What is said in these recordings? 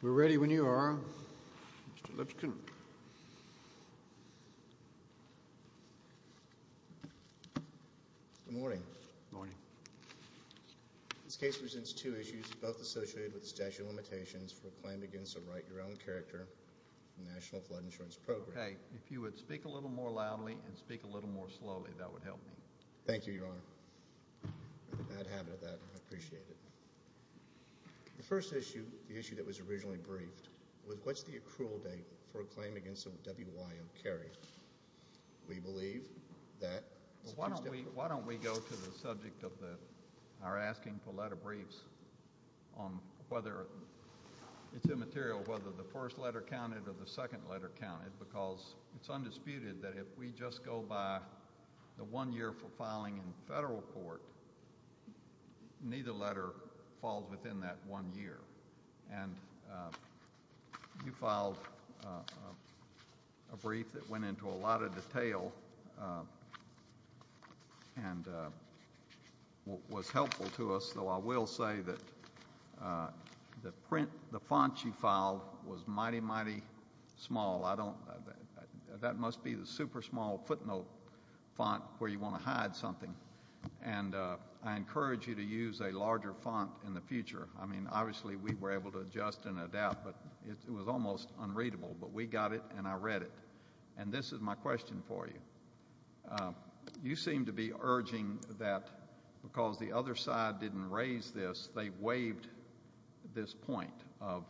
We're ready when you are, Mr. Lipscomb. Good morning. Good morning. This case presents two issues, both associated with statute of limitations for a claim against a write-your-own-character national flood insurance program. Okay. If you would speak a little more loudly and speak a little more slowly, that would help me. Thank you, Your Honor. I'm in a bad habit of that. I appreciate it. The first issue, the issue that was originally briefed, was what's the accrual date for a claim against a WYO carry? We believe that... Why don't we go to the subject of our asking for letter briefs on whether it's immaterial whether the first letter counted or the second letter counted, because it's undisputed that if we just go by the one year for filing in federal court, neither letter falls within that one year. And you filed a brief that went into a lot of detail and was helpful to us, though I will say that the font you filed was mighty, mighty small. I don't... That must be the super small footnote font where you want to hide something. And I encourage you to use a larger font in the future. I mean, obviously we were able to adjust and adapt, but it was almost unreadable. But we got it and I read it. And this is my question for you. You seem to be urging that because the other side didn't raise this, they waived this point of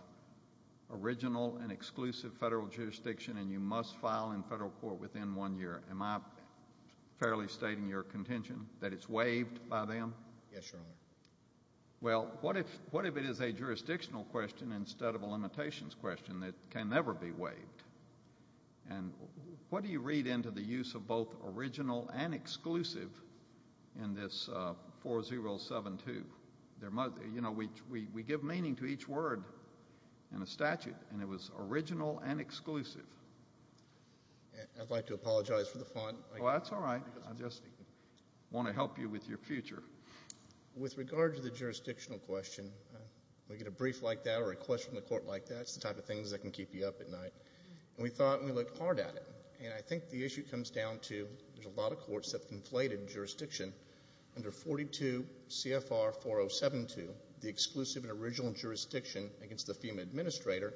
original and exclusive federal jurisdiction and you must file in federal court within one year. Am I fairly stating your contention that it's waived by them? Yes, Your Honor. Well, what if it is a jurisdictional question instead of a limitations question that can never be waived? And what do you read into the use of both original and exclusive in this 4072? You know, we give meaning to each word in a statute, and it was original and exclusive. I'd like to apologize for the font. Oh, that's all right. I just want to help you with your future. With regard to the jurisdictional question, we get a brief like that or a question from the court like that. It's the type of things that can keep you up at night. And we thought and we looked hard at it, and I think the issue comes down to there's a under 42 CFR 4072, the exclusive and original jurisdiction against the FEMA administrator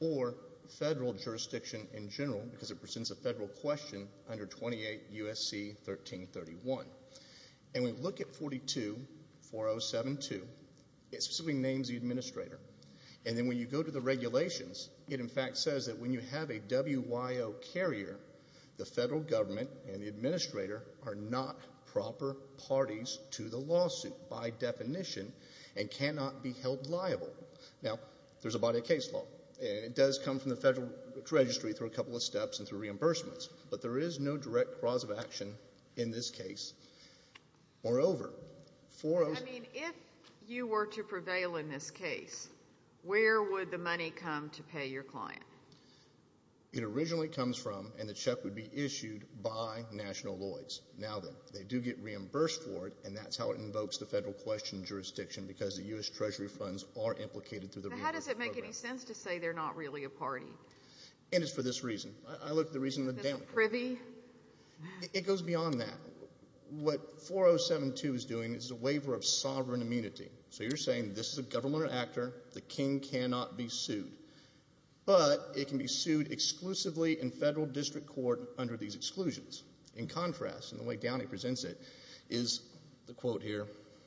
or federal jurisdiction in general because it presents a federal question under 28 U.S.C. 1331. And we look at 42 4072. It specifically names the administrator. And then when you go to the regulations, it in fact says that when you have a WYO carrier, the federal government and the administrator are not proper parties to the lawsuit by definition and cannot be held liable. Now, there's a body of case law. It does come from the federal registry through a couple of steps and through reimbursements. But there is no direct cause of action in this case. Moreover, for us. I mean, if you were to prevail in this case, where would the money come to pay your client? It originally comes from and the check would be issued by National Lloyd's. Now, they do get reimbursed for it, and that's how it invokes the federal question jurisdiction because the U.S. Treasury funds are implicated through the reimbursement program. But how does it make any sense to say they're not really a party? And it's for this reason. I look at the reason with Danica. It's a privy? It goes beyond that. What 4072 is doing is a waiver of sovereign immunity. So you're saying this is a government actor. The king cannot be sued. But it can be sued exclusively in federal district court under these exclusions. In contrast, in the way Downey presents it, is the quote here.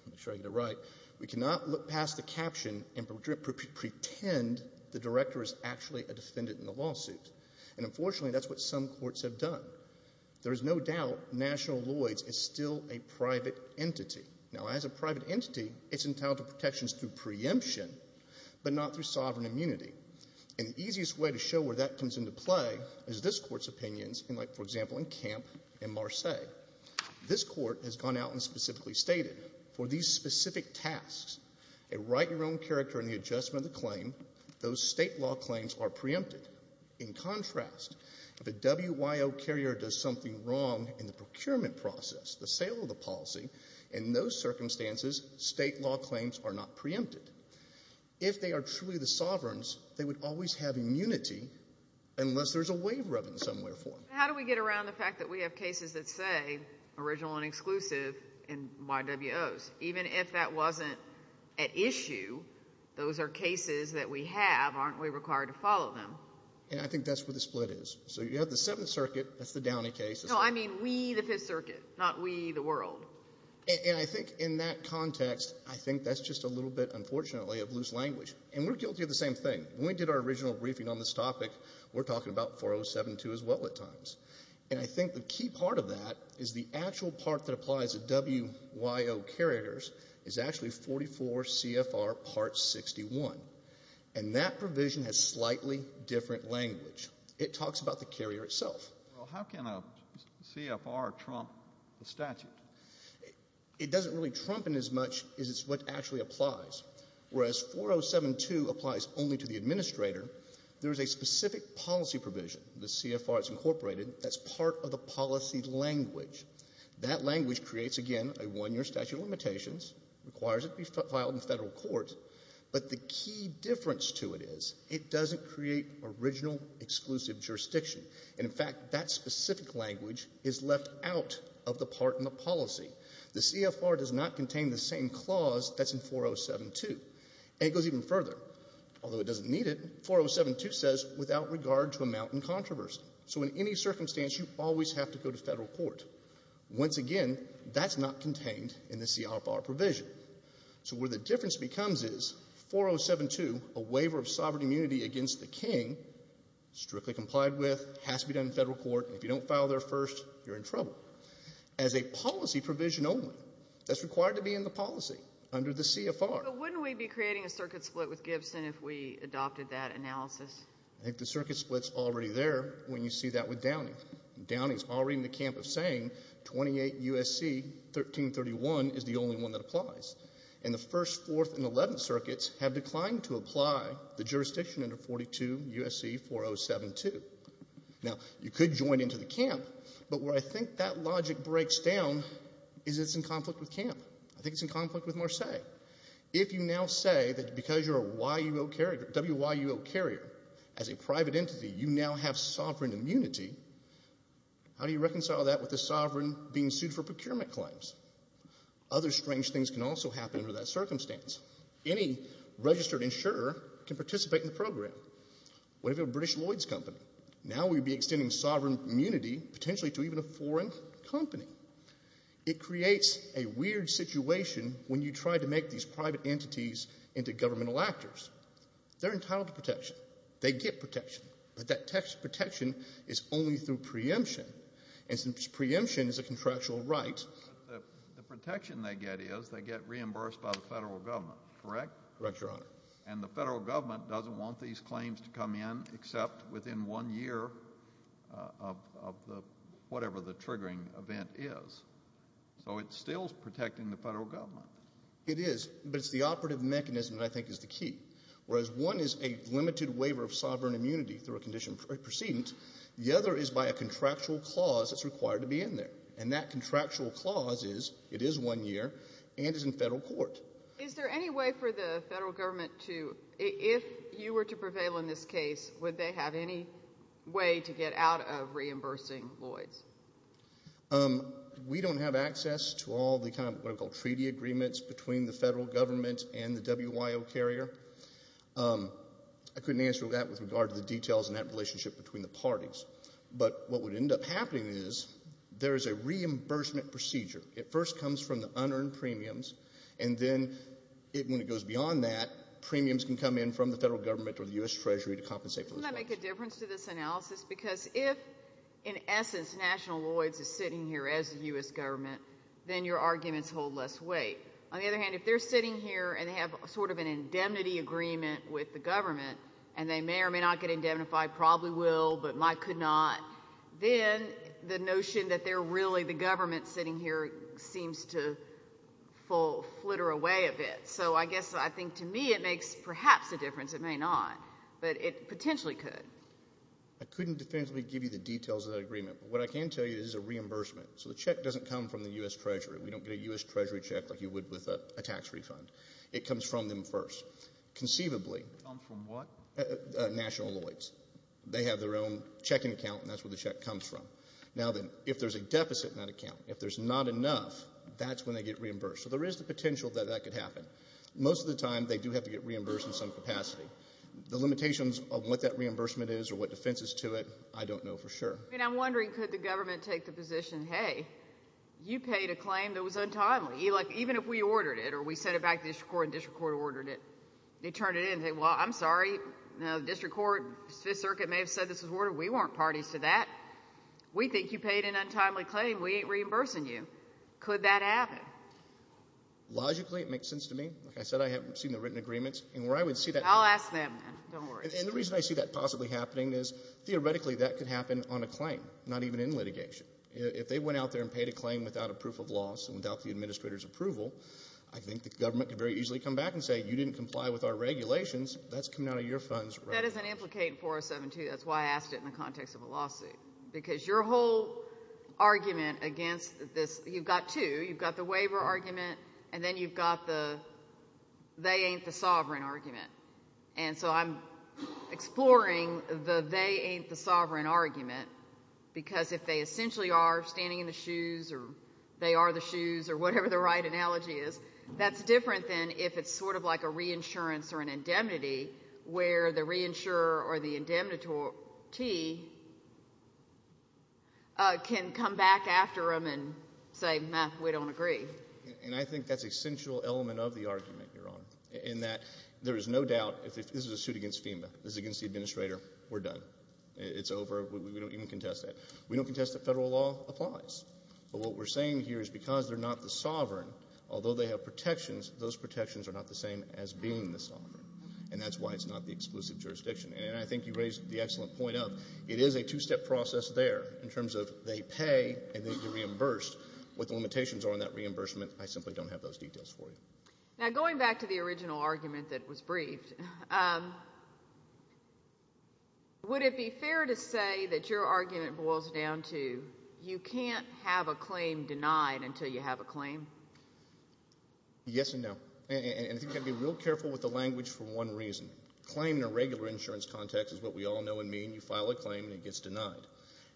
Make sure I get it right. We cannot look past the caption and pretend the director is actually a defendant in the lawsuit. And unfortunately, that's what some courts have done. There is no doubt National Lloyd's is still a private entity. Now, as a private entity, it's entitled to protections through preemption, but not through sovereign immunity. And the easiest way to show where that comes into play is this court's opinions, like, for example, in Camp and Marseilles. This court has gone out and specifically stated, for these specific tasks, a write-your-own-character and the adjustment of the claim, those state law claims are preempted. In contrast, if a WYO carrier does something wrong in the procurement process, the sale of the policy, in those circumstances, state law claims are not preempted. If they are truly the sovereigns, they would always have immunity, unless there's a waiver of it in some way or form. How do we get around the fact that we have cases that say original and exclusive in YWOs? Even if that wasn't at issue, those are cases that we have. Aren't we required to follow them? And I think that's where the split is. So you have the Seventh Circuit. That's the Downey case. No, I mean we, the Fifth Circuit, not we, the world. And I think in that context, I think that's just a little bit, unfortunately, of loose language. And we're guilty of the same thing. When we did our original briefing on this topic, we're talking about 4072 as well at times. And I think the key part of that is the actual part that applies to WYO carriers is actually 44 CFR Part 61. And that provision has slightly different language. It talks about the carrier itself. Well, how can a CFR trump the statute? It doesn't really trump it as much as it's what actually applies. Whereas 4072 applies only to the administrator, there is a specific policy provision, the CFR that's incorporated, that's part of the policy language. That language creates, again, a one-year statute of limitations, requires it to be filed in federal court. But the key difference to it is it doesn't create original exclusive jurisdiction. And, in fact, that specific language is left out of the part in the policy. The CFR does not contain the same clause that's in 4072. And it goes even further. Although it doesn't need it, 4072 says without regard to amount in controversy. So in any circumstance, you always have to go to federal court. Once again, that's not contained in the CFR provision. So where the difference becomes is 4072, a waiver of sovereign immunity against the king, strictly complied with, has to be done in federal court. If you don't file there first, you're in trouble. As a policy provision only, that's required to be in the policy under the CFR. But wouldn't we be creating a circuit split with Gibson if we adopted that analysis? I think the circuit split's already there when you see that with Downing. Downing's already in the camp of saying 28 U.S.C. 1331 is the only one that applies. And the 1st, 4th, and 11th circuits have declined to apply the jurisdiction under 42 U.S.C. 4072. Now, you could join into the camp, but where I think that logic breaks down is it's in conflict with camp. I think it's in conflict with Marseilles. If you now say that because you're a WYUO carrier, as a private entity, you now have sovereign immunity, how do you reconcile that with the sovereign being sued for procurement claims? Other strange things can also happen under that circumstance. Any registered insurer can participate in the program. What if you're a British Lloyds company? Now we'd be extending sovereign immunity potentially to even a foreign company. It creates a weird situation when you try to make these private entities into governmental actors. They're entitled to protection. They get protection. But that protection is only through preemption, and since preemption is a contractual right, the protection they get is they get reimbursed by the federal government, correct? Correct, Your Honor. And the federal government doesn't want these claims to come in except within one year of whatever the triggering event is. So it's still protecting the federal government. It is, but it's the operative mechanism that I think is the key. Whereas one is a limited waiver of sovereign immunity through a condition of precedent, the other is by a contractual clause that's required to be in there, and that contractual clause is it is one year and is in federal court. Is there any way for the federal government to, if you were to prevail in this case, would they have any way to get out of reimbursing Lloyds? We don't have access to all the kind of what I call treaty agreements between the federal government and the WYO carrier. I couldn't answer that with regard to the details and that relationship between the parties. But what would end up happening is there is a reimbursement procedure. It first comes from the unearned premiums, and then when it goes beyond that, premiums can come in from the federal government or the U.S. Treasury to compensate for those claims. Doesn't that make a difference to this analysis? Because if, in essence, National Lloyds is sitting here as the U.S. government, then your arguments hold less weight. On the other hand, if they're sitting here and they have sort of an indemnity agreement with the government and they may or may not get indemnified, probably will, but might could not, then the notion that they're really the government sitting here seems to flitter away a bit. So I guess I think to me it makes perhaps a difference. It may not, but it potentially could. I couldn't definitively give you the details of that agreement, but what I can tell you is it's a reimbursement. So the check doesn't come from the U.S. Treasury. We don't get a U.S. Treasury check like you would with a tax refund. It comes from them first. Conceivably. It comes from what? National Lloyds. They have their own checking account, and that's where the check comes from. Now then, if there's a deficit in that account, if there's not enough, that's when they get reimbursed. So there is the potential that that could happen. Most of the time they do have to get reimbursed in some capacity. The limitations of what that reimbursement is or what defense is to it, I don't know for sure. I'm wondering, could the government take the position, hey, you paid a claim that was untimely, even if we ordered it or we sent it back to the district court and the district court ordered it, they turn it in and say, well, I'm sorry. The district court, the Fifth Circuit may have said this was ordered. We weren't parties to that. We think you paid an untimely claim. We ain't reimbursing you. Could that happen? Logically, it makes sense to me. Like I said, I haven't seen the written agreements. I'll ask them, then. Don't worry. And the reason I see that possibly happening is theoretically that could happen on a claim, not even in litigation. If they went out there and paid a claim without a proof of loss and without the administrator's approval, I think the government could very easily come back and say, you didn't comply with our regulations. That's coming out of your funds. That doesn't implicate 4072. That's why I asked it in the context of a lawsuit. Because your whole argument against this, you've got two. You've got the waiver argument, and then you've got the they ain't the sovereign argument. And so I'm exploring the they ain't the sovereign argument because if they essentially are standing in the shoes or they are the shoes or whatever the right analogy is, that's different than if it's sort of like a reinsurance or an indemnity where the reinsurer or the indemnity can come back after them and say, we don't agree. And I think that's an essential element of the argument, Your Honor, in that there is no doubt if this is a suit against FEMA, this is against the administrator, we're done. It's over. We don't even contest that. We don't contest that federal law applies. But what we're saying here is because they're not the sovereign, although they have protections, those protections are not the same as being the sovereign, and that's why it's not the exclusive jurisdiction. And I think you raised the excellent point of it is a two-step process there in terms of they pay and then you're reimbursed. What the limitations are on that reimbursement, I simply don't have those details for you. Now, going back to the original argument that was briefed, would it be fair to say that your argument boils down to you can't have a claim denied until you have a claim? Yes and no. And you've got to be real careful with the language for one reason. Claim in a regular insurance context is what we all know and mean. You file a claim and it gets denied.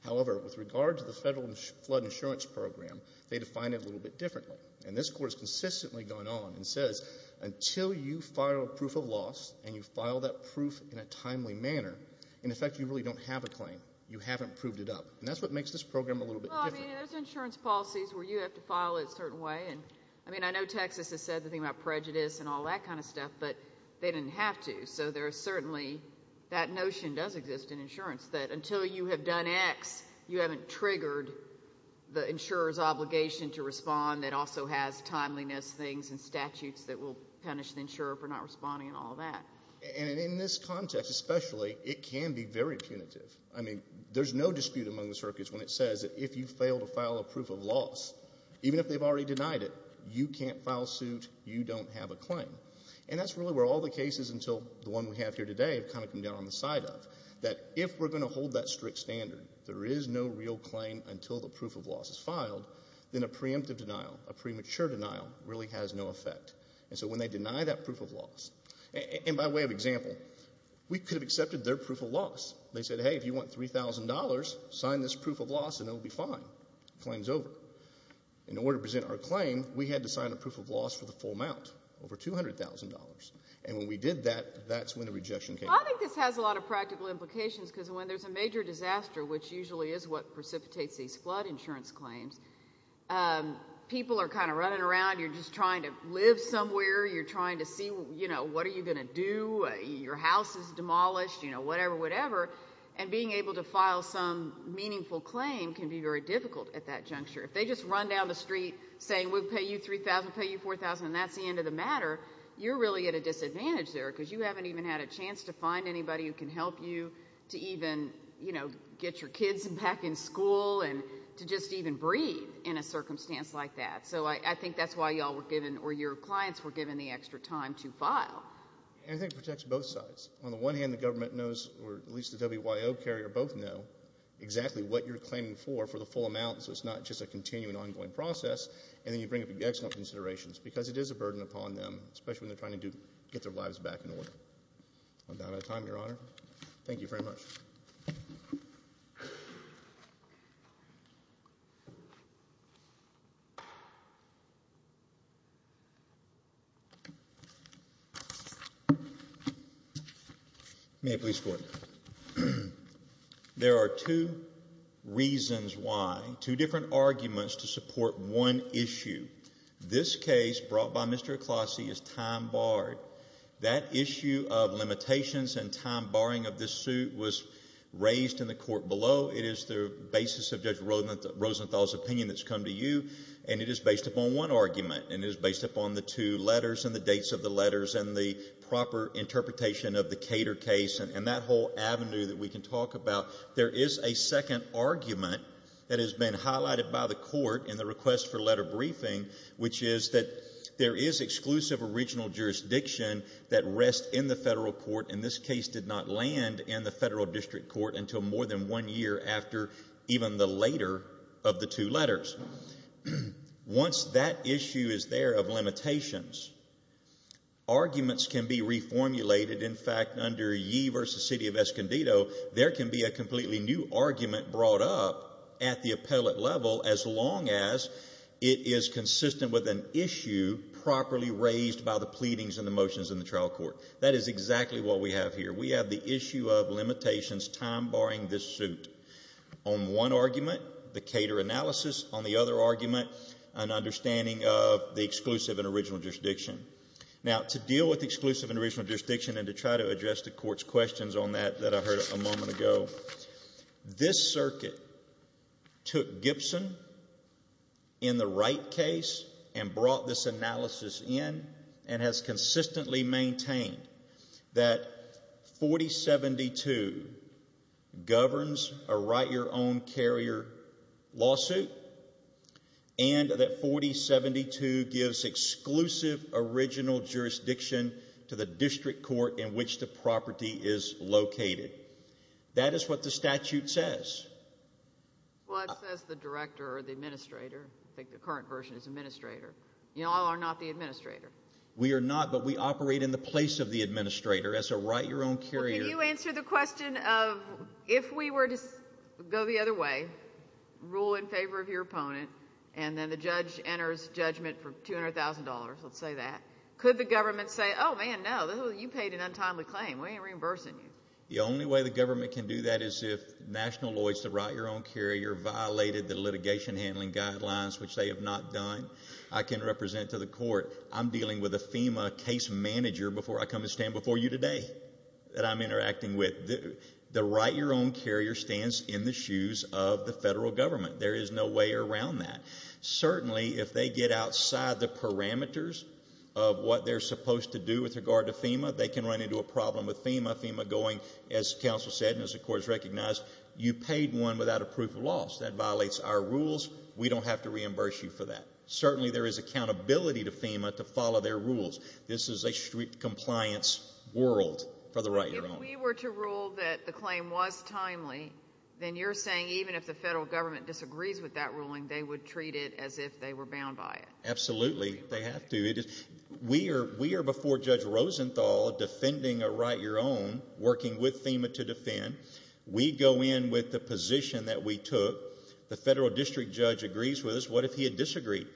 However, with regard to the Federal Flood Insurance Program, they define it a little bit differently. And this Court has consistently gone on and says until you file a proof of loss and you file that proof in a timely manner, in effect you really don't have a claim. You haven't proved it up. And that's what makes this program a little bit different. Well, I mean, there's insurance policies where you have to file it a certain way. And, I mean, I know Texas has said the thing about prejudice and all that kind of stuff, but they didn't have to. So there is certainly that notion does exist in insurance that until you have done X, you haven't triggered the insurer's obligation to respond that also has timeliness things and statutes that will punish the insurer for not responding and all that. And in this context especially, it can be very punitive. I mean, there's no dispute among the circuits when it says that if you fail to file a proof of loss, even if they've already denied it, you can't file suit, you don't have a claim. And that's really where all the cases until the one we have here today have kind of come down on the side of, that if we're going to hold that strict standard, there is no real claim until the proof of loss is filed, then a preemptive denial, a premature denial, really has no effect. And so when they deny that proof of loss, and by way of example, we could have accepted their proof of loss. They said, hey, if you want $3,000, sign this proof of loss and it will be fine. Claim's over. In order to present our claim, we had to sign a proof of loss for the full amount, over $200,000. And when we did that, that's when the rejection came. Well, I think this has a lot of practical implications because when there's a major disaster, which usually is what precipitates these flood insurance claims, people are kind of running around. You're just trying to live somewhere. You're trying to see, you know, what are you going to do? Your house is demolished, you know, whatever, whatever. And being able to file some meaningful claim can be very difficult at that juncture. If they just run down the street saying we'll pay you $3,000, pay you $4,000, and that's the end of the matter, you're really at a disadvantage there because you haven't even had a chance to find anybody who can help you to even, you know, get your kids back in school and to just even breathe in a circumstance like that. So I think that's why you all were given or your clients were given the extra time to file. And I think it protects both sides. On the one hand, the government knows, or at least the WYO carrier both know, exactly what you're claiming for for the full amount so it's not just a continuing, ongoing process. And then you bring up excellent considerations because it is a burden upon them, especially when they're trying to get their lives back in order. I'm out of time, Your Honor. Thank you very much. May it please the Court. There are two reasons why, two different arguments to support one issue. This case brought by Mr. Aclossie is time barred. That issue of limitations and time barring of this suit was raised in the court below. It is the basis of Judge Rosenthal's opinion that's come to you, and it is based upon one argument, and it is based upon the two letters and the dates of the letters and the proper interpretation of the Cater case and that whole avenue that we can talk about. There is a second argument that has been highlighted by the court in the request for letter briefing, which is that there is exclusive original jurisdiction that rests in the federal court, and this case did not land in the federal district court until more than one year after even the later of the two letters. Once that issue is there of limitations, arguments can be reformulated. In fact, under ye versus city of Escondido, there can be a completely new argument brought up at the appellate level as long as it is consistent with an issue properly raised by the pleadings and the motions in the trial court. That is exactly what we have here. We have the issue of limitations, time barring this suit. On one argument, the Cater analysis. On the other argument, an understanding of the exclusive and original jurisdiction. Now, to deal with exclusive and original jurisdiction and to try to address the court's questions on that that I heard a moment ago, this circuit took Gibson in the right case and brought this analysis in and has consistently maintained that 4072 governs a write-your-own-carrier lawsuit and that 4072 gives exclusive original jurisdiction to the district court in which the property is located. That is what the statute says. Well, it says the director or the administrator. I think the current version is administrator. You all are not the administrator. We are not, but we operate in the place of the administrator as a write-your-own-carrier. Well, can you answer the question of if we were to go the other way, rule in favor of your opponent, and then the judge enters judgment for $200,000, let's say that, could the government say, oh, man, no, you paid an untimely claim. We ain't reimbursing you. The only way the government can do that is if national lawyers to write-your-own-carrier violated the litigation handling guidelines, which they have not done. I can represent to the court I'm dealing with a FEMA case manager before I come and stand before you today that I'm interacting with. The write-your-own-carrier stands in the shoes of the federal government. There is no way around that. Certainly, if they get outside the parameters of what they're supposed to do with regard to FEMA, they can run into a problem with FEMA, FEMA going, as counsel said and as the court has recognized, you paid one without a proof of loss. That violates our rules. We don't have to reimburse you for that. Certainly, there is accountability to FEMA to follow their rules. This is a strict compliance world for the write-your-own. If we were to rule that the claim was timely, then you're saying even if the federal government disagrees with that ruling, they would treat it as if they were bound by it? Absolutely, they have to. We are before Judge Rosenthal defending a write-your-own, working with FEMA to defend. We go in with the position that we took. The federal district judge agrees with us. What if he had disagreed?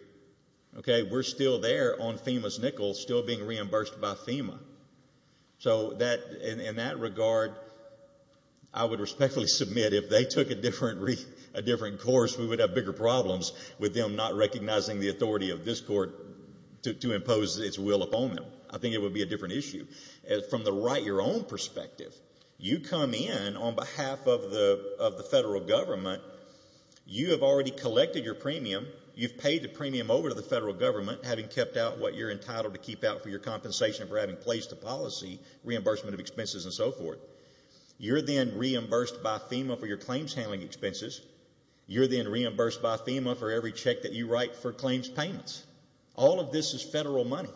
We're still there on FEMA's nickel, still being reimbursed by FEMA. In that regard, I would respectfully submit if they took a different course, we would have bigger problems with them not recognizing the authority of this court to impose its will upon them. I think it would be a different issue. From the write-your-own perspective, you come in on behalf of the federal government. You have already collected your premium. You've paid the premium over to the federal government, having kept out what you're entitled to keep out for your compensation for having placed a policy, reimbursement of expenses, and so forth. You're then reimbursed by FEMA for your claims handling expenses. You're then reimbursed by FEMA for every check that you write for claims payments. All of this is federal money.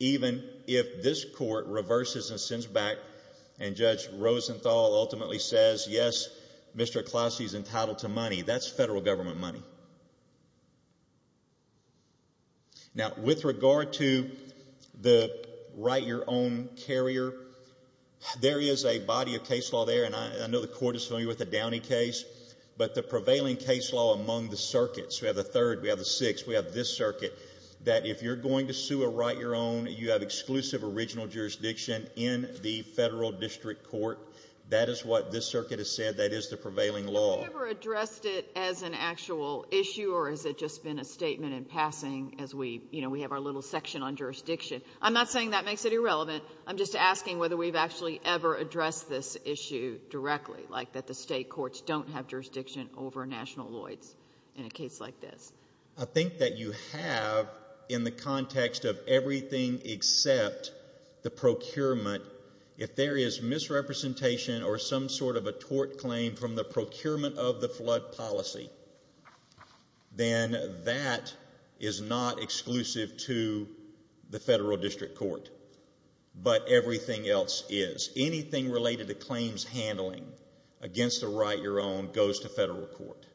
Even if this court reverses and sends back and Judge Rosenthal ultimately says, yes, Mr. Klauski's entitled to money, that's federal government money. Now, with regard to the write-your-own carrier, there is a body of case law there, and I know the court is familiar with the Downey case, but the prevailing case law among the circuits, we have the Third, we have the Sixth, we have this circuit, that if you're going to sue a write-your-own, you have exclusive original jurisdiction in the federal district court. That is what this circuit has said. That is the prevailing law. Have we ever addressed it as an actual issue, or has it just been a statement in passing as we have our little section on jurisdiction? I'm not saying that makes it irrelevant. I'm just asking whether we've actually ever addressed this issue directly, like that the state courts don't have jurisdiction over national loits in a case like this. I think that you have in the context of everything except the procurement. If there is misrepresentation or some sort of a tort claim from the procurement of the flood policy, then that is not exclusive to the federal district court, but everything else is. Anything related to claims handling against a write-your-own goes to federal court.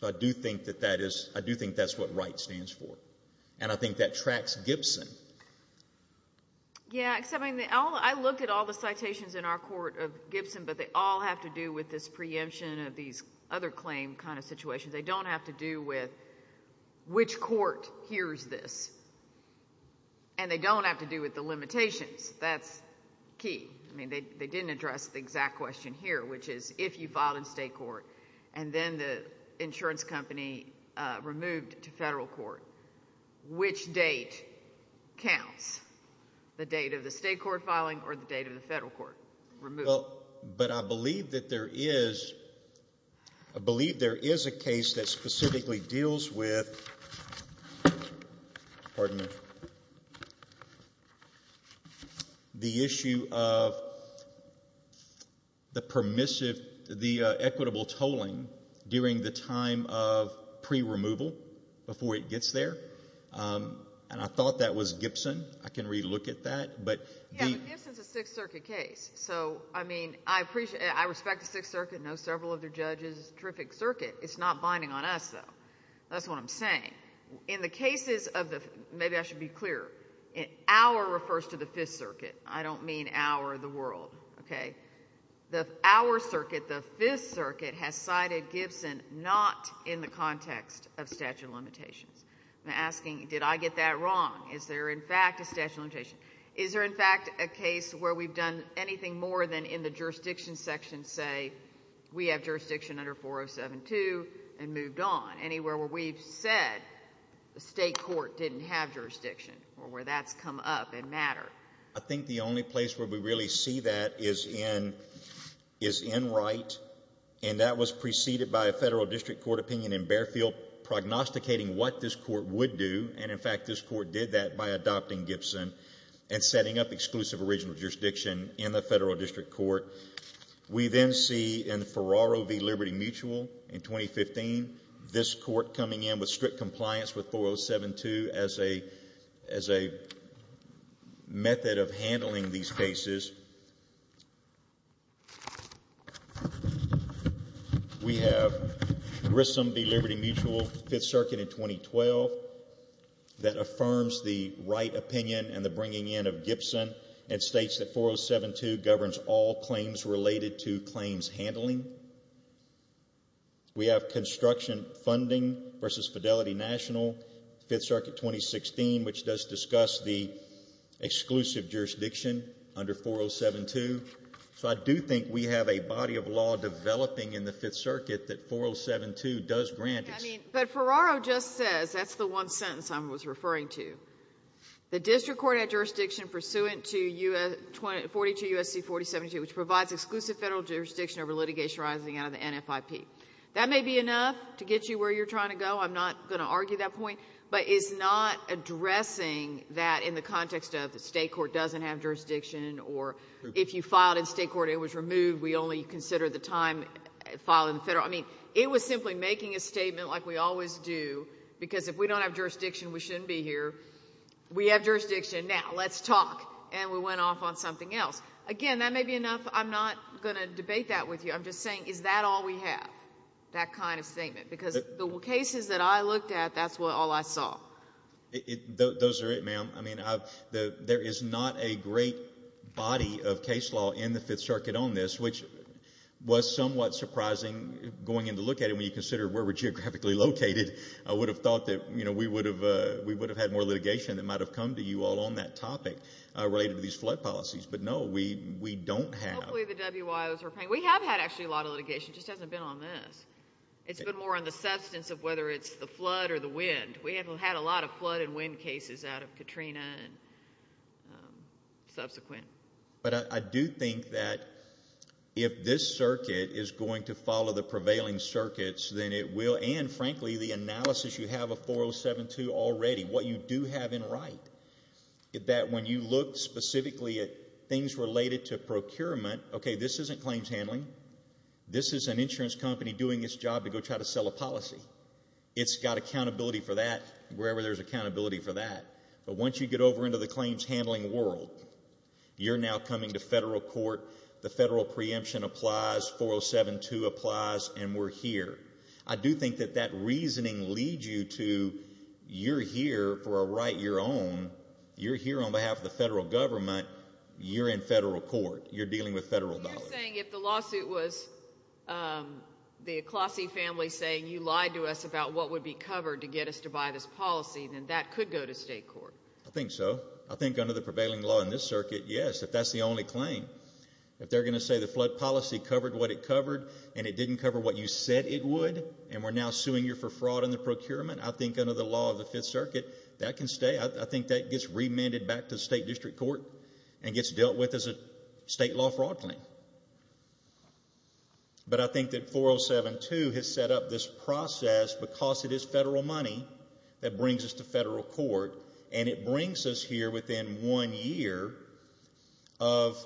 So I do think that that is what write stands for, and I think that tracks Gibson. Yeah, except I looked at all the citations in our court of Gibson, but they all have to do with this preemption of these other claim kind of situations. They don't have to do with which court hears this, and they don't have to do with the limitations. That's key. I mean, they didn't address the exact question here, which is if you filed in state court, and then the insurance company removed to federal court, which date counts, the date of the state court filing or the date of the federal court removal? Well, but I believe that there is a case that specifically deals with the issue of the permissive, the equitable tolling during the time of pre-removal before it gets there. And I thought that was Gibson. I can relook at that. Yeah, but Gibson is a Sixth Circuit case. So, I mean, I respect the Sixth Circuit and know several of their judges. It's a terrific circuit. It's not binding on us, though. That's what I'm saying. In the cases of the – maybe I should be clear. Our refers to the Fifth Circuit. I don't mean our or the world, okay? Our circuit, the Fifth Circuit, has cited Gibson not in the context of statute of limitations. I'm asking, did I get that wrong? Is there, in fact, a statute of limitations? Is there, in fact, a case where we've done anything more than in the jurisdiction section say we have jurisdiction under 4072 and moved on anywhere where we've said the state court didn't have jurisdiction or where that's come up and mattered? I think the only place where we really see that is in Wright, and that was preceded by a federal district court opinion in Bearfield prognosticating what this court would do. And, in fact, this court did that by adopting Gibson and setting up exclusive original jurisdiction in the federal district court. We then see in Ferraro v. Liberty Mutual in 2015, this court coming in with strict compliance with 4072 as a method of handling these cases. We have Grissom v. Liberty Mutual, Fifth Circuit in 2012, that affirms the Wright opinion and the bringing in of Gibson and states that 4072 governs all claims related to claims handling. We have construction funding versus Fidelity National, Fifth Circuit 2016, which does discuss the exclusive jurisdiction under 4072. So I do think we have a body of law developing in the Fifth Circuit that 4072 does grant. But Ferraro just says, that's the one sentence I was referring to, the district court had jurisdiction pursuant to 42 U.S.C. 4072, which provides exclusive federal jurisdiction over litigation arising out of the NFIP. That may be enough to get you where you're trying to go, I'm not going to argue that point, but it's not addressing that in the context of the state court doesn't have jurisdiction or if you filed in state court, it was removed, we only consider the time filed in federal. I mean, it was simply making a statement like we always do, because if we don't have jurisdiction, we shouldn't be here. We have jurisdiction, now let's talk. And we went off on something else. Again, that may be enough. I'm not going to debate that with you. I'm just saying, is that all we have, that kind of statement? Because the cases that I looked at, that's all I saw. Those are it, ma'am. I mean, there is not a great body of case law in the Fifth Circuit on this, which was somewhat surprising going in to look at it when you consider where we're geographically located. I would have thought that we would have had more litigation that might have come to you all on that topic related to these flood policies. But no, we don't have. Hopefully the WIOs are paying. We have had actually a lot of litigation, it just hasn't been on this. It's been more on the substance of whether it's the flood or the wind. We have had a lot of flood and wind cases out of Katrina and subsequent. But I do think that if this circuit is going to follow the prevailing circuits, then it will, and frankly the analysis you have of 4072 already, what you do have in right, that when you look specifically at things related to procurement, okay, this isn't claims handling. This is an insurance company doing its job to go try to sell a policy. It's got accountability for that wherever there's accountability for that. But once you get over into the claims handling world, you're now coming to federal court, the federal preemption applies, 4072 applies, and we're here. I do think that that reasoning leads you to you're here for a right your own. You're here on behalf of the federal government. You're in federal court. You're dealing with federal dollars. You're saying if the lawsuit was the Aclossie family saying you lied to us about what would be covered to get us to buy this policy, then that could go to state court. I think so. I think under the prevailing law in this circuit, yes, if that's the only claim. If they're going to say the flood policy covered what it covered and it didn't cover what you said it would and we're now suing you for fraud in the procurement, I think under the law of the Fifth Circuit that can stay. I think that gets remanded back to the state district court and gets dealt with as a state law fraud claim. But I think that 4072 has set up this process because it is federal money that brings us to federal court and it brings us here within one year of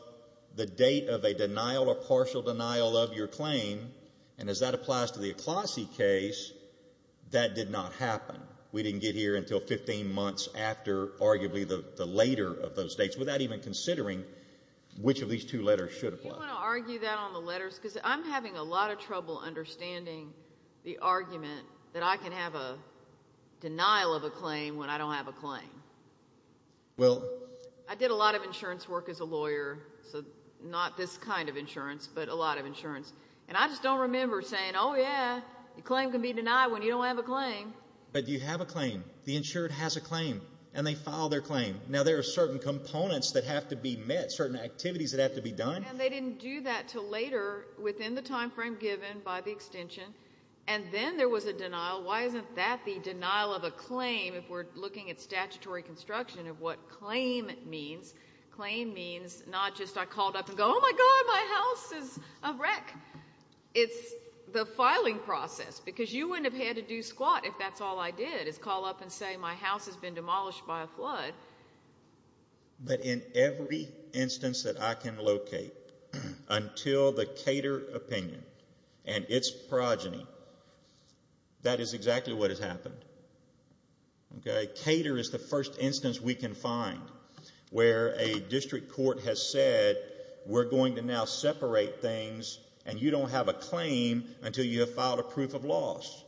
the date of a denial or partial denial of your claim, and as that applies to the Aclossie case, that did not happen. We didn't get here until 15 months after arguably the later of those dates. Without even considering which of these two letters should apply. Do you want to argue that on the letters? Because I'm having a lot of trouble understanding the argument that I can have a denial of a claim when I don't have a claim. I did a lot of insurance work as a lawyer, so not this kind of insurance but a lot of insurance, and I just don't remember saying, oh, yeah, your claim can be denied when you don't have a claim. But you have a claim. The insured has a claim, and they file their claim. Now, there are certain components that have to be met, certain activities that have to be done. And they didn't do that until later within the time frame given by the extension, and then there was a denial. Why isn't that the denial of a claim if we're looking at statutory construction of what claim means? Claim means not just I called up and go, oh, my God, my house is a wreck. It's the filing process, because you wouldn't have had to do squat if that's all I did is call up and say my house has been demolished by a flood. But in every instance that I can locate until the Cater opinion and its progeny, that is exactly what has happened. Cater is the first instance we can find where a district court has said we're going to now separate things and you don't have a claim until you have filed a proof of loss.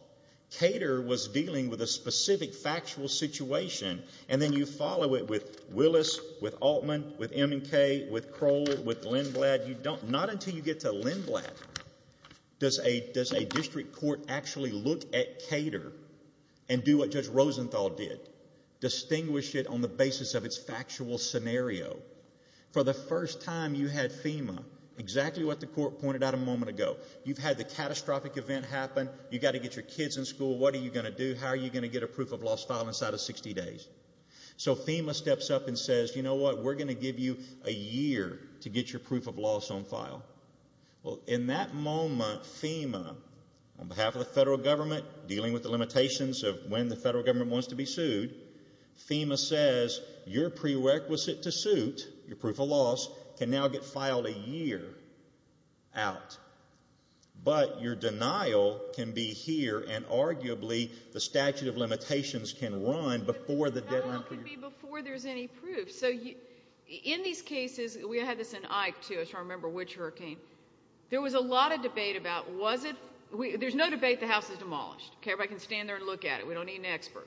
Cater was dealing with a specific factual situation, and then you follow it with Willis, with Altman, with M&K, with Kroll, with Lindblad. Not until you get to Lindblad does a district court actually look at Cater and do what Judge Rosenthal did, distinguish it on the basis of its factual scenario. For the first time you had FEMA, exactly what the court pointed out a moment ago. You've had the catastrophic event happen. You've got to get your kids in school. What are you going to do? How are you going to get a proof of loss filed inside of 60 days? So FEMA steps up and says, you know what, we're going to give you a year to get your proof of loss on file. Well, in that moment FEMA, on behalf of the federal government, dealing with the limitations of when the federal government wants to be sued, FEMA says your prerequisite to suit, your proof of loss, can now get filed a year out. But your denial can be here, and arguably the statute of limitations can run before the deadline for your proof. But your denial can be before there's any proof. So in these cases, we had this in Ike, too. I'm trying to remember which hurricane. There was a lot of debate about was it? There's no debate the house is demolished. Everybody can stand there and look at it. We don't need an expert.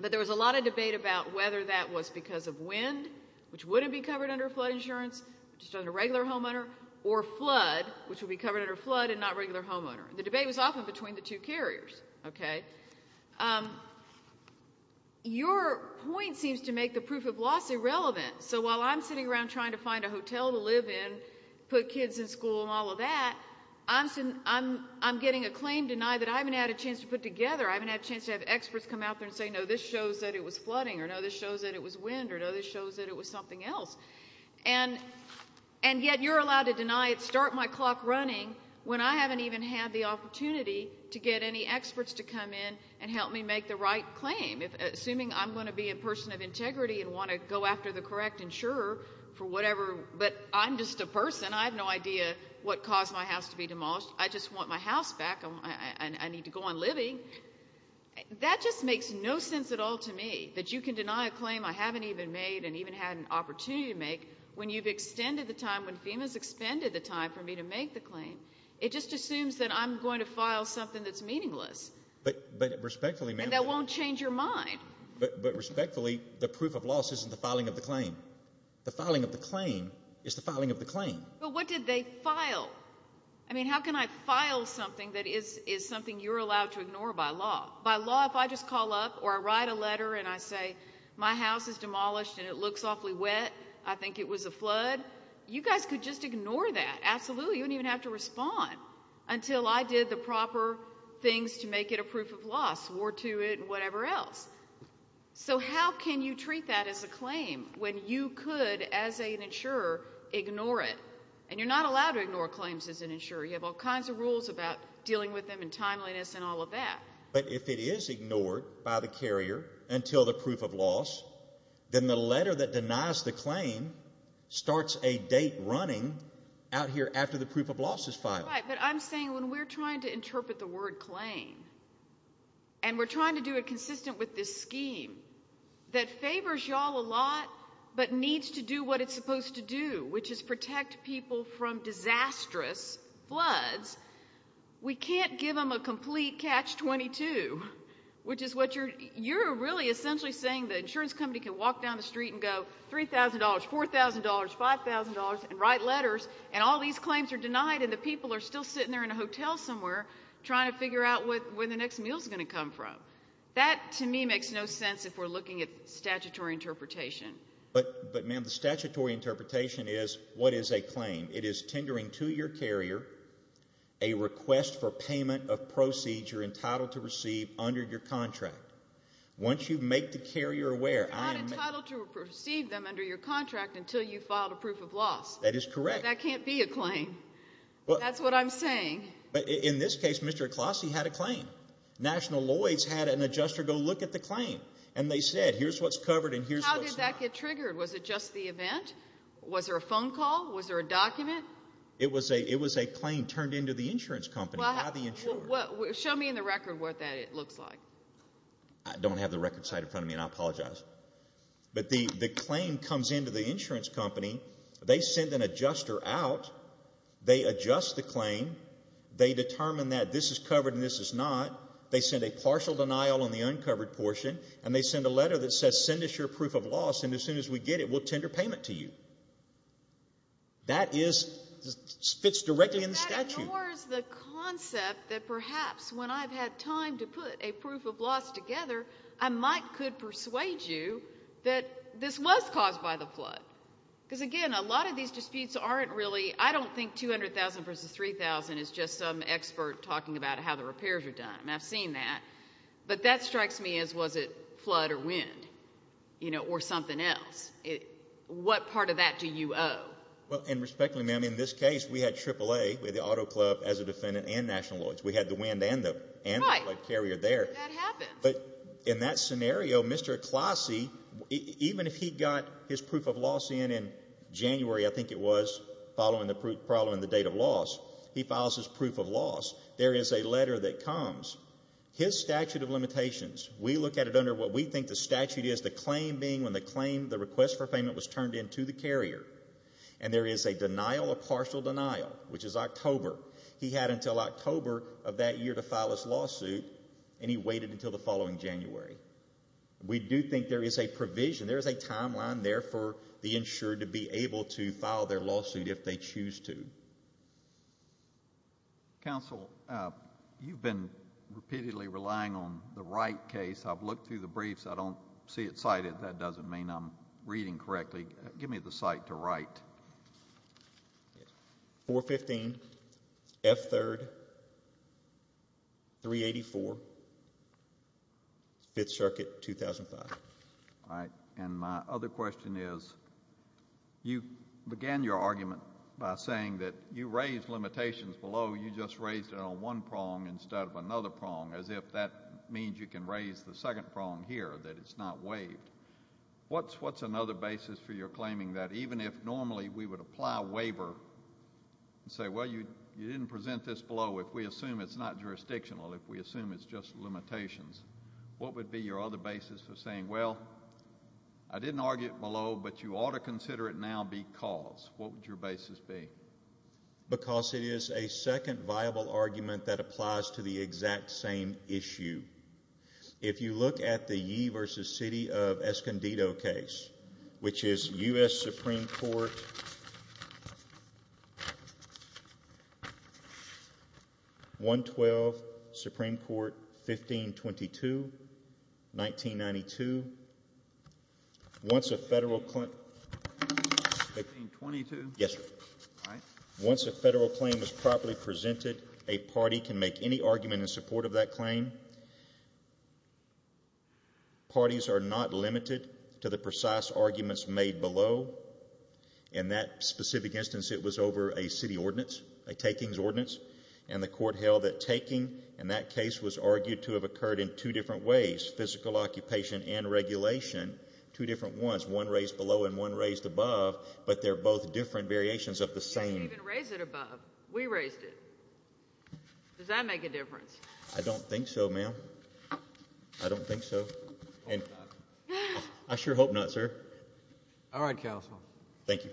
But there was a lot of debate about whether that was because of wind, which wouldn't be covered under flood insurance, just under regular homeowner, or flood, which would be covered under flood and not regular homeowner. The debate was often between the two carriers. Your point seems to make the proof of loss irrelevant. So while I'm sitting around trying to find a hotel to live in, put kids in school and all of that, I'm getting a claim denied that I haven't had a chance to put together. I haven't had a chance to have experts come out there and say, no, this shows that it was flooding, or no, this shows that it was wind, or no, this shows that it was something else. And yet you're allowed to deny it, start my clock running, when I haven't even had the opportunity to get any experts to come in and help me make the right claim. Assuming I'm going to be a person of integrity and want to go after the correct insurer for whatever, but I'm just a person. I have no idea what caused my house to be demolished. I just want my house back. I need to go on living. That just makes no sense at all to me, that you can deny a claim I haven't even made and even had an opportunity to make when you've extended the time, when FEMA's expended the time for me to make the claim. It just assumes that I'm going to file something that's meaningless. But respectfully, ma'am. And that won't change your mind. But respectfully, the proof of loss isn't the filing of the claim. The filing of the claim is the filing of the claim. But what did they file? I mean, how can I file something that is something you're allowed to ignore by law? By law, if I just call up or I write a letter and I say, my house is demolished and it looks awfully wet, I think it was a flood, you guys could just ignore that, absolutely. You wouldn't even have to respond until I did the proper things to make it a proof of loss, swore to it and whatever else. So how can you treat that as a claim when you could, as an insurer, ignore it? And you're not allowed to ignore claims as an insurer. You have all kinds of rules about dealing with them and timeliness and all of that. But if it is ignored by the carrier until the proof of loss, then the letter that denies the claim starts a date running out here after the proof of loss is filed. Right, but I'm saying when we're trying to interpret the word claim and we're trying to do it consistent with this scheme that favors you all a lot but needs to do what it's supposed to do, which is protect people from disastrous floods, we can't give them a complete catch-22. You're really essentially saying the insurance company can walk down the street and go $3,000, $4,000, $5,000 and write letters and all these claims are denied and the people are still sitting there in a hotel somewhere trying to figure out where the next meal's going to come from. That, to me, makes no sense if we're looking at statutory interpretation. But, ma'am, the statutory interpretation is what is a claim. It is tendering to your carrier a request for payment of proceeds you're entitled to receive under your contract. Once you make the carrier aware... You're not entitled to receive them under your contract until you've filed a proof of loss. That is correct. But that can't be a claim. That's what I'm saying. In this case, Mr. Aclossie had a claim. National Lloyd's had an adjuster go look at the claim and they said, here's what's covered and here's what's not. How did that get triggered? Was it just the event? Was there a phone call? Was there a document? It was a claim turned into the insurance company by the insurer. Show me in the record what that looks like. I don't have the record side in front of me and I apologize. But the claim comes into the insurance company. They send an adjuster out. They adjust the claim. They determine that this is covered and this is not. They send a partial denial on the uncovered portion and they send a letter that says, send us your proof of loss and as soon as we get it, we'll tender payment to you. That fits directly in the statute. That ignores the concept that perhaps when I've had time to put a proof of loss together, I might could persuade you that this was caused by the flood. Because, again, a lot of these disputes aren't really, I don't think 200,000 versus 3,000 is just some expert talking about how the repairs are done. I've seen that. But that strikes me as was it flood or wind or something else. What part of that do you owe? And respectfully, ma'am, in this case, we had AAA, the auto club as a defendant and national law. We had the wind and the flood carrier there. But in that scenario, Mr. Klossy, even if he got his proof of loss in in January, I think it was, following the date of loss, he files his proof of loss. There is a letter that comes. His statute of limitations, we look at it under what we think the statute is, the claim being when the claim, the request for payment was turned in to the carrier, and there is a denial or partial denial, which is October. He had until October of that year to file his lawsuit, and he waited until the following January. We do think there is a provision, there is a timeline there for the insured to be able to file their lawsuit if they choose to. Counsel, you've been repeatedly relying on the right case. I've looked through the briefs. I don't see it cited. That doesn't mean I'm reading correctly. Give me the cite to write. 415 F. 3rd, 384, Fifth Circuit, 2005. All right. And my other question is, you began your argument by saying that you raised limitations below. You just raised it on one prong instead of another prong, as if that means you can raise the second prong here, that it's not waived. What's another basis for your claiming that even if normally we would apply waiver and say, well, you didn't present this below, if we assume it's not jurisdictional, if we assume it's just limitations, what would be your other basis for saying, well, I didn't argue it below, but you ought to consider it now because. What would your basis be? Because it is a second viable argument that applies to the exact same issue. If you look at the Yee versus City of Escondido case, which is U.S. Supreme Court, 112, Supreme Court, 1522, 1992. Once a federal claim. Yes, sir. All right. No party can make any argument in support of that claim. Parties are not limited to the precise arguments made below. In that specific instance, it was over a city ordinance, a takings ordinance, and the court held that taking in that case was argued to have occurred in two different ways, physical occupation and regulation, two different ones, one raised below and one raised above, but they're both different variations of the same. They didn't even raise it above. We raised it. Does that make a difference? I don't think so, ma'am. I don't think so. I sure hope not, sir. All right, counsel. Thank you.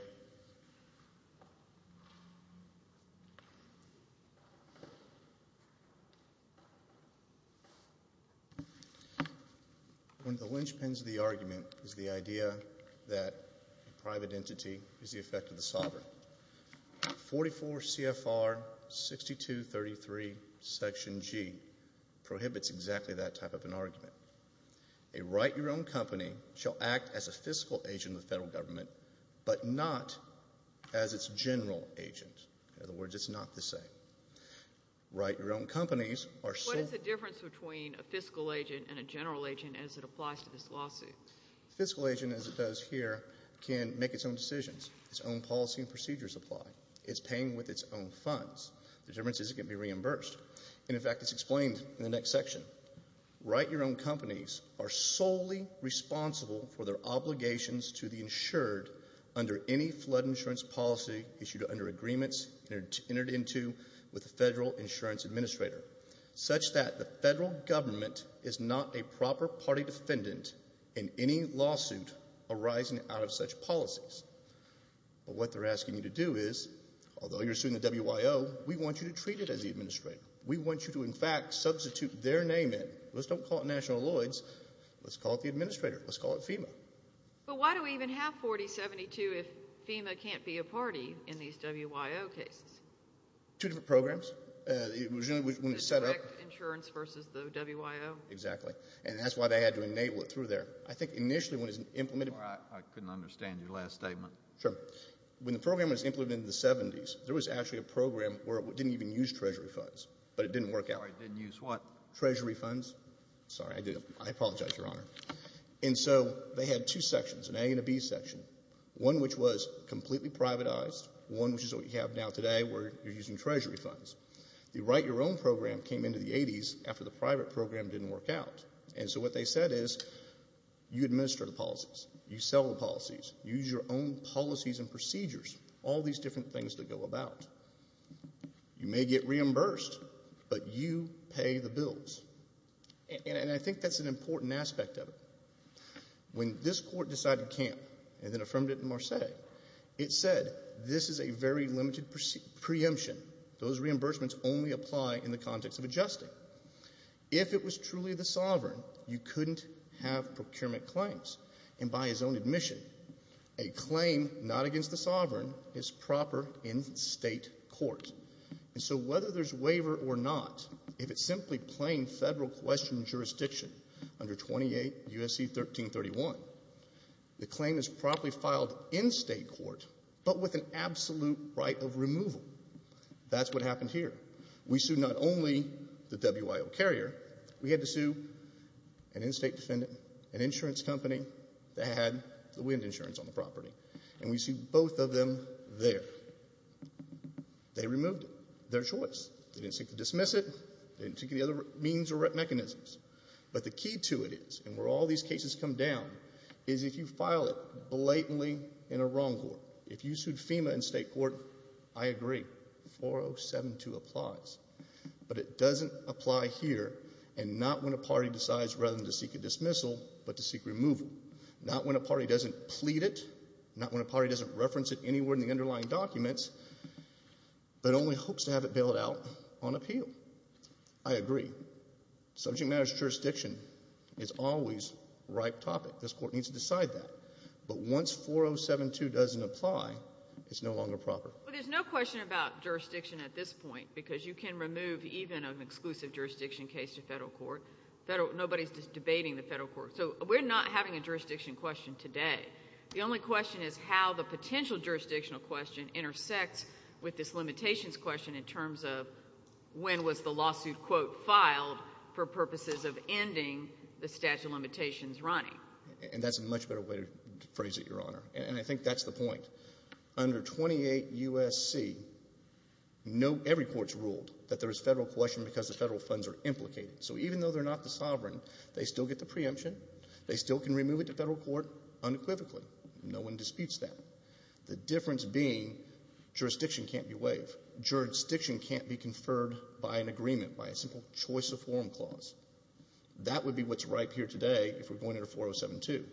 One of the linchpins of the argument is the idea that a private entity is the effect of the sovereign. 44 CFR 6233 Section G prohibits exactly that type of an argument. A write-your-own company shall act as a fiscal agent of the federal government but not as its general agent. In other words, it's not the same. Write-your-own companies are sole. What is the difference between a fiscal agent and a general agent as it applies to this lawsuit? A fiscal agent, as it does here, can make its own decisions, its own policy and procedures apply. It's paying with its own funds. The difference is it can be reimbursed. And, in fact, it's explained in the next section. Write-your-own companies are solely responsible for their obligations to the insured under any flood insurance policy issued under agreements entered into with the federal insurance administrator, such that the federal government is not a proper party defendant in any lawsuit arising out of such policies. But what they're asking you to do is, although you're suing the WIO, we want you to treat it as the administrator. We want you to, in fact, substitute their name in. Let's don't call it National Lloyd's. Let's call it the administrator. Let's call it FEMA. But why do we even have 4072 if FEMA can't be a party in these WIO cases? Two different programs. The direct insurance versus the WIO? Exactly. And that's why they had to enable it through there. I think initially when it was implemented— I couldn't understand your last statement. Sure. When the program was implemented in the 70s, there was actually a program where it didn't even use Treasury funds, but it didn't work out. It didn't use what? Treasury funds. Sorry, I did it. I apologize, Your Honor. And so they had two sections, an A and a B section, one which was completely privatized, one which is what you have now today where you're using Treasury funds. The Write Your Own program came into the 80s after the private program didn't work out. And so what they said is you administer the policies, you sell the policies, you use your own policies and procedures, all these different things that go about. You may get reimbursed, but you pay the bills. And I think that's an important aspect of it. When this Court decided it can't and then affirmed it in Marseilles, it said this is a very limited preemption. Those reimbursements only apply in the context of adjusting. If it was truly the sovereign, you couldn't have procurement claims. And by his own admission, a claim not against the sovereign is proper in state court. And so whether there's waiver or not, if it's simply plain federal question jurisdiction under 28 U.S.C. 1331, the claim is properly filed in state court but with an absolute right of removal. That's what happened here. We sued not only the WIO carrier. We had to sue an in-state defendant, an insurance company that had the wind insurance on the property, and we sued both of them there. They removed it. Their choice. They didn't seek to dismiss it. They didn't seek any other means or mechanisms. But the key to it is, and where all these cases come down, is if you file it blatantly in a wrong court. If you sued FEMA in state court, I agree. 4072 applies. But it doesn't apply here and not when a party decides rather than to seek a dismissal but to seek removal, not when a party doesn't plead it, not when a party doesn't reference it anywhere in the underlying documents, but only hopes to have it bailed out on appeal. I agree. Subject matters jurisdiction is always a ripe topic. This court needs to decide that. But once 4072 doesn't apply, it's no longer proper. There's no question about jurisdiction at this point because you can remove even an exclusive jurisdiction case to federal court. Nobody is debating the federal court. So we're not having a jurisdiction question today. The only question is how the potential jurisdictional question intersects with this limitations question in terms of when was the lawsuit, quote, filed for purposes of ending the statute of limitations running. And that's a much better way to phrase it, Your Honor. And I think that's the point. Under 28 U.S.C., every court's ruled that there is federal question because the federal funds are implicated. So even though they're not the sovereign, they still get the preemption. They still can remove it to federal court unequivocally. No one disputes that. The difference being jurisdiction can't be waived. Jurisdiction can't be conferred by an agreement, by a simple choice of form clause. That would be what's ripe here today if we're going under 4072.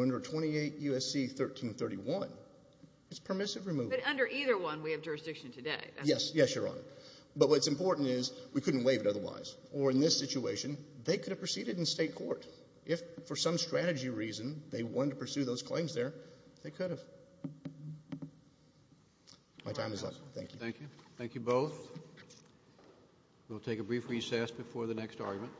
Under 28 U.S.C. 1331, it's permissive removal. But under either one, we have jurisdiction today. Yes, Your Honor. But what's important is we couldn't waive it otherwise. Or in this situation, they could have proceeded in state court. If for some strategy reason they wanted to pursue those claims there, they could have. My time is up. Thank you. Thank you. Thank you both. We'll take a brief recess before the next argument.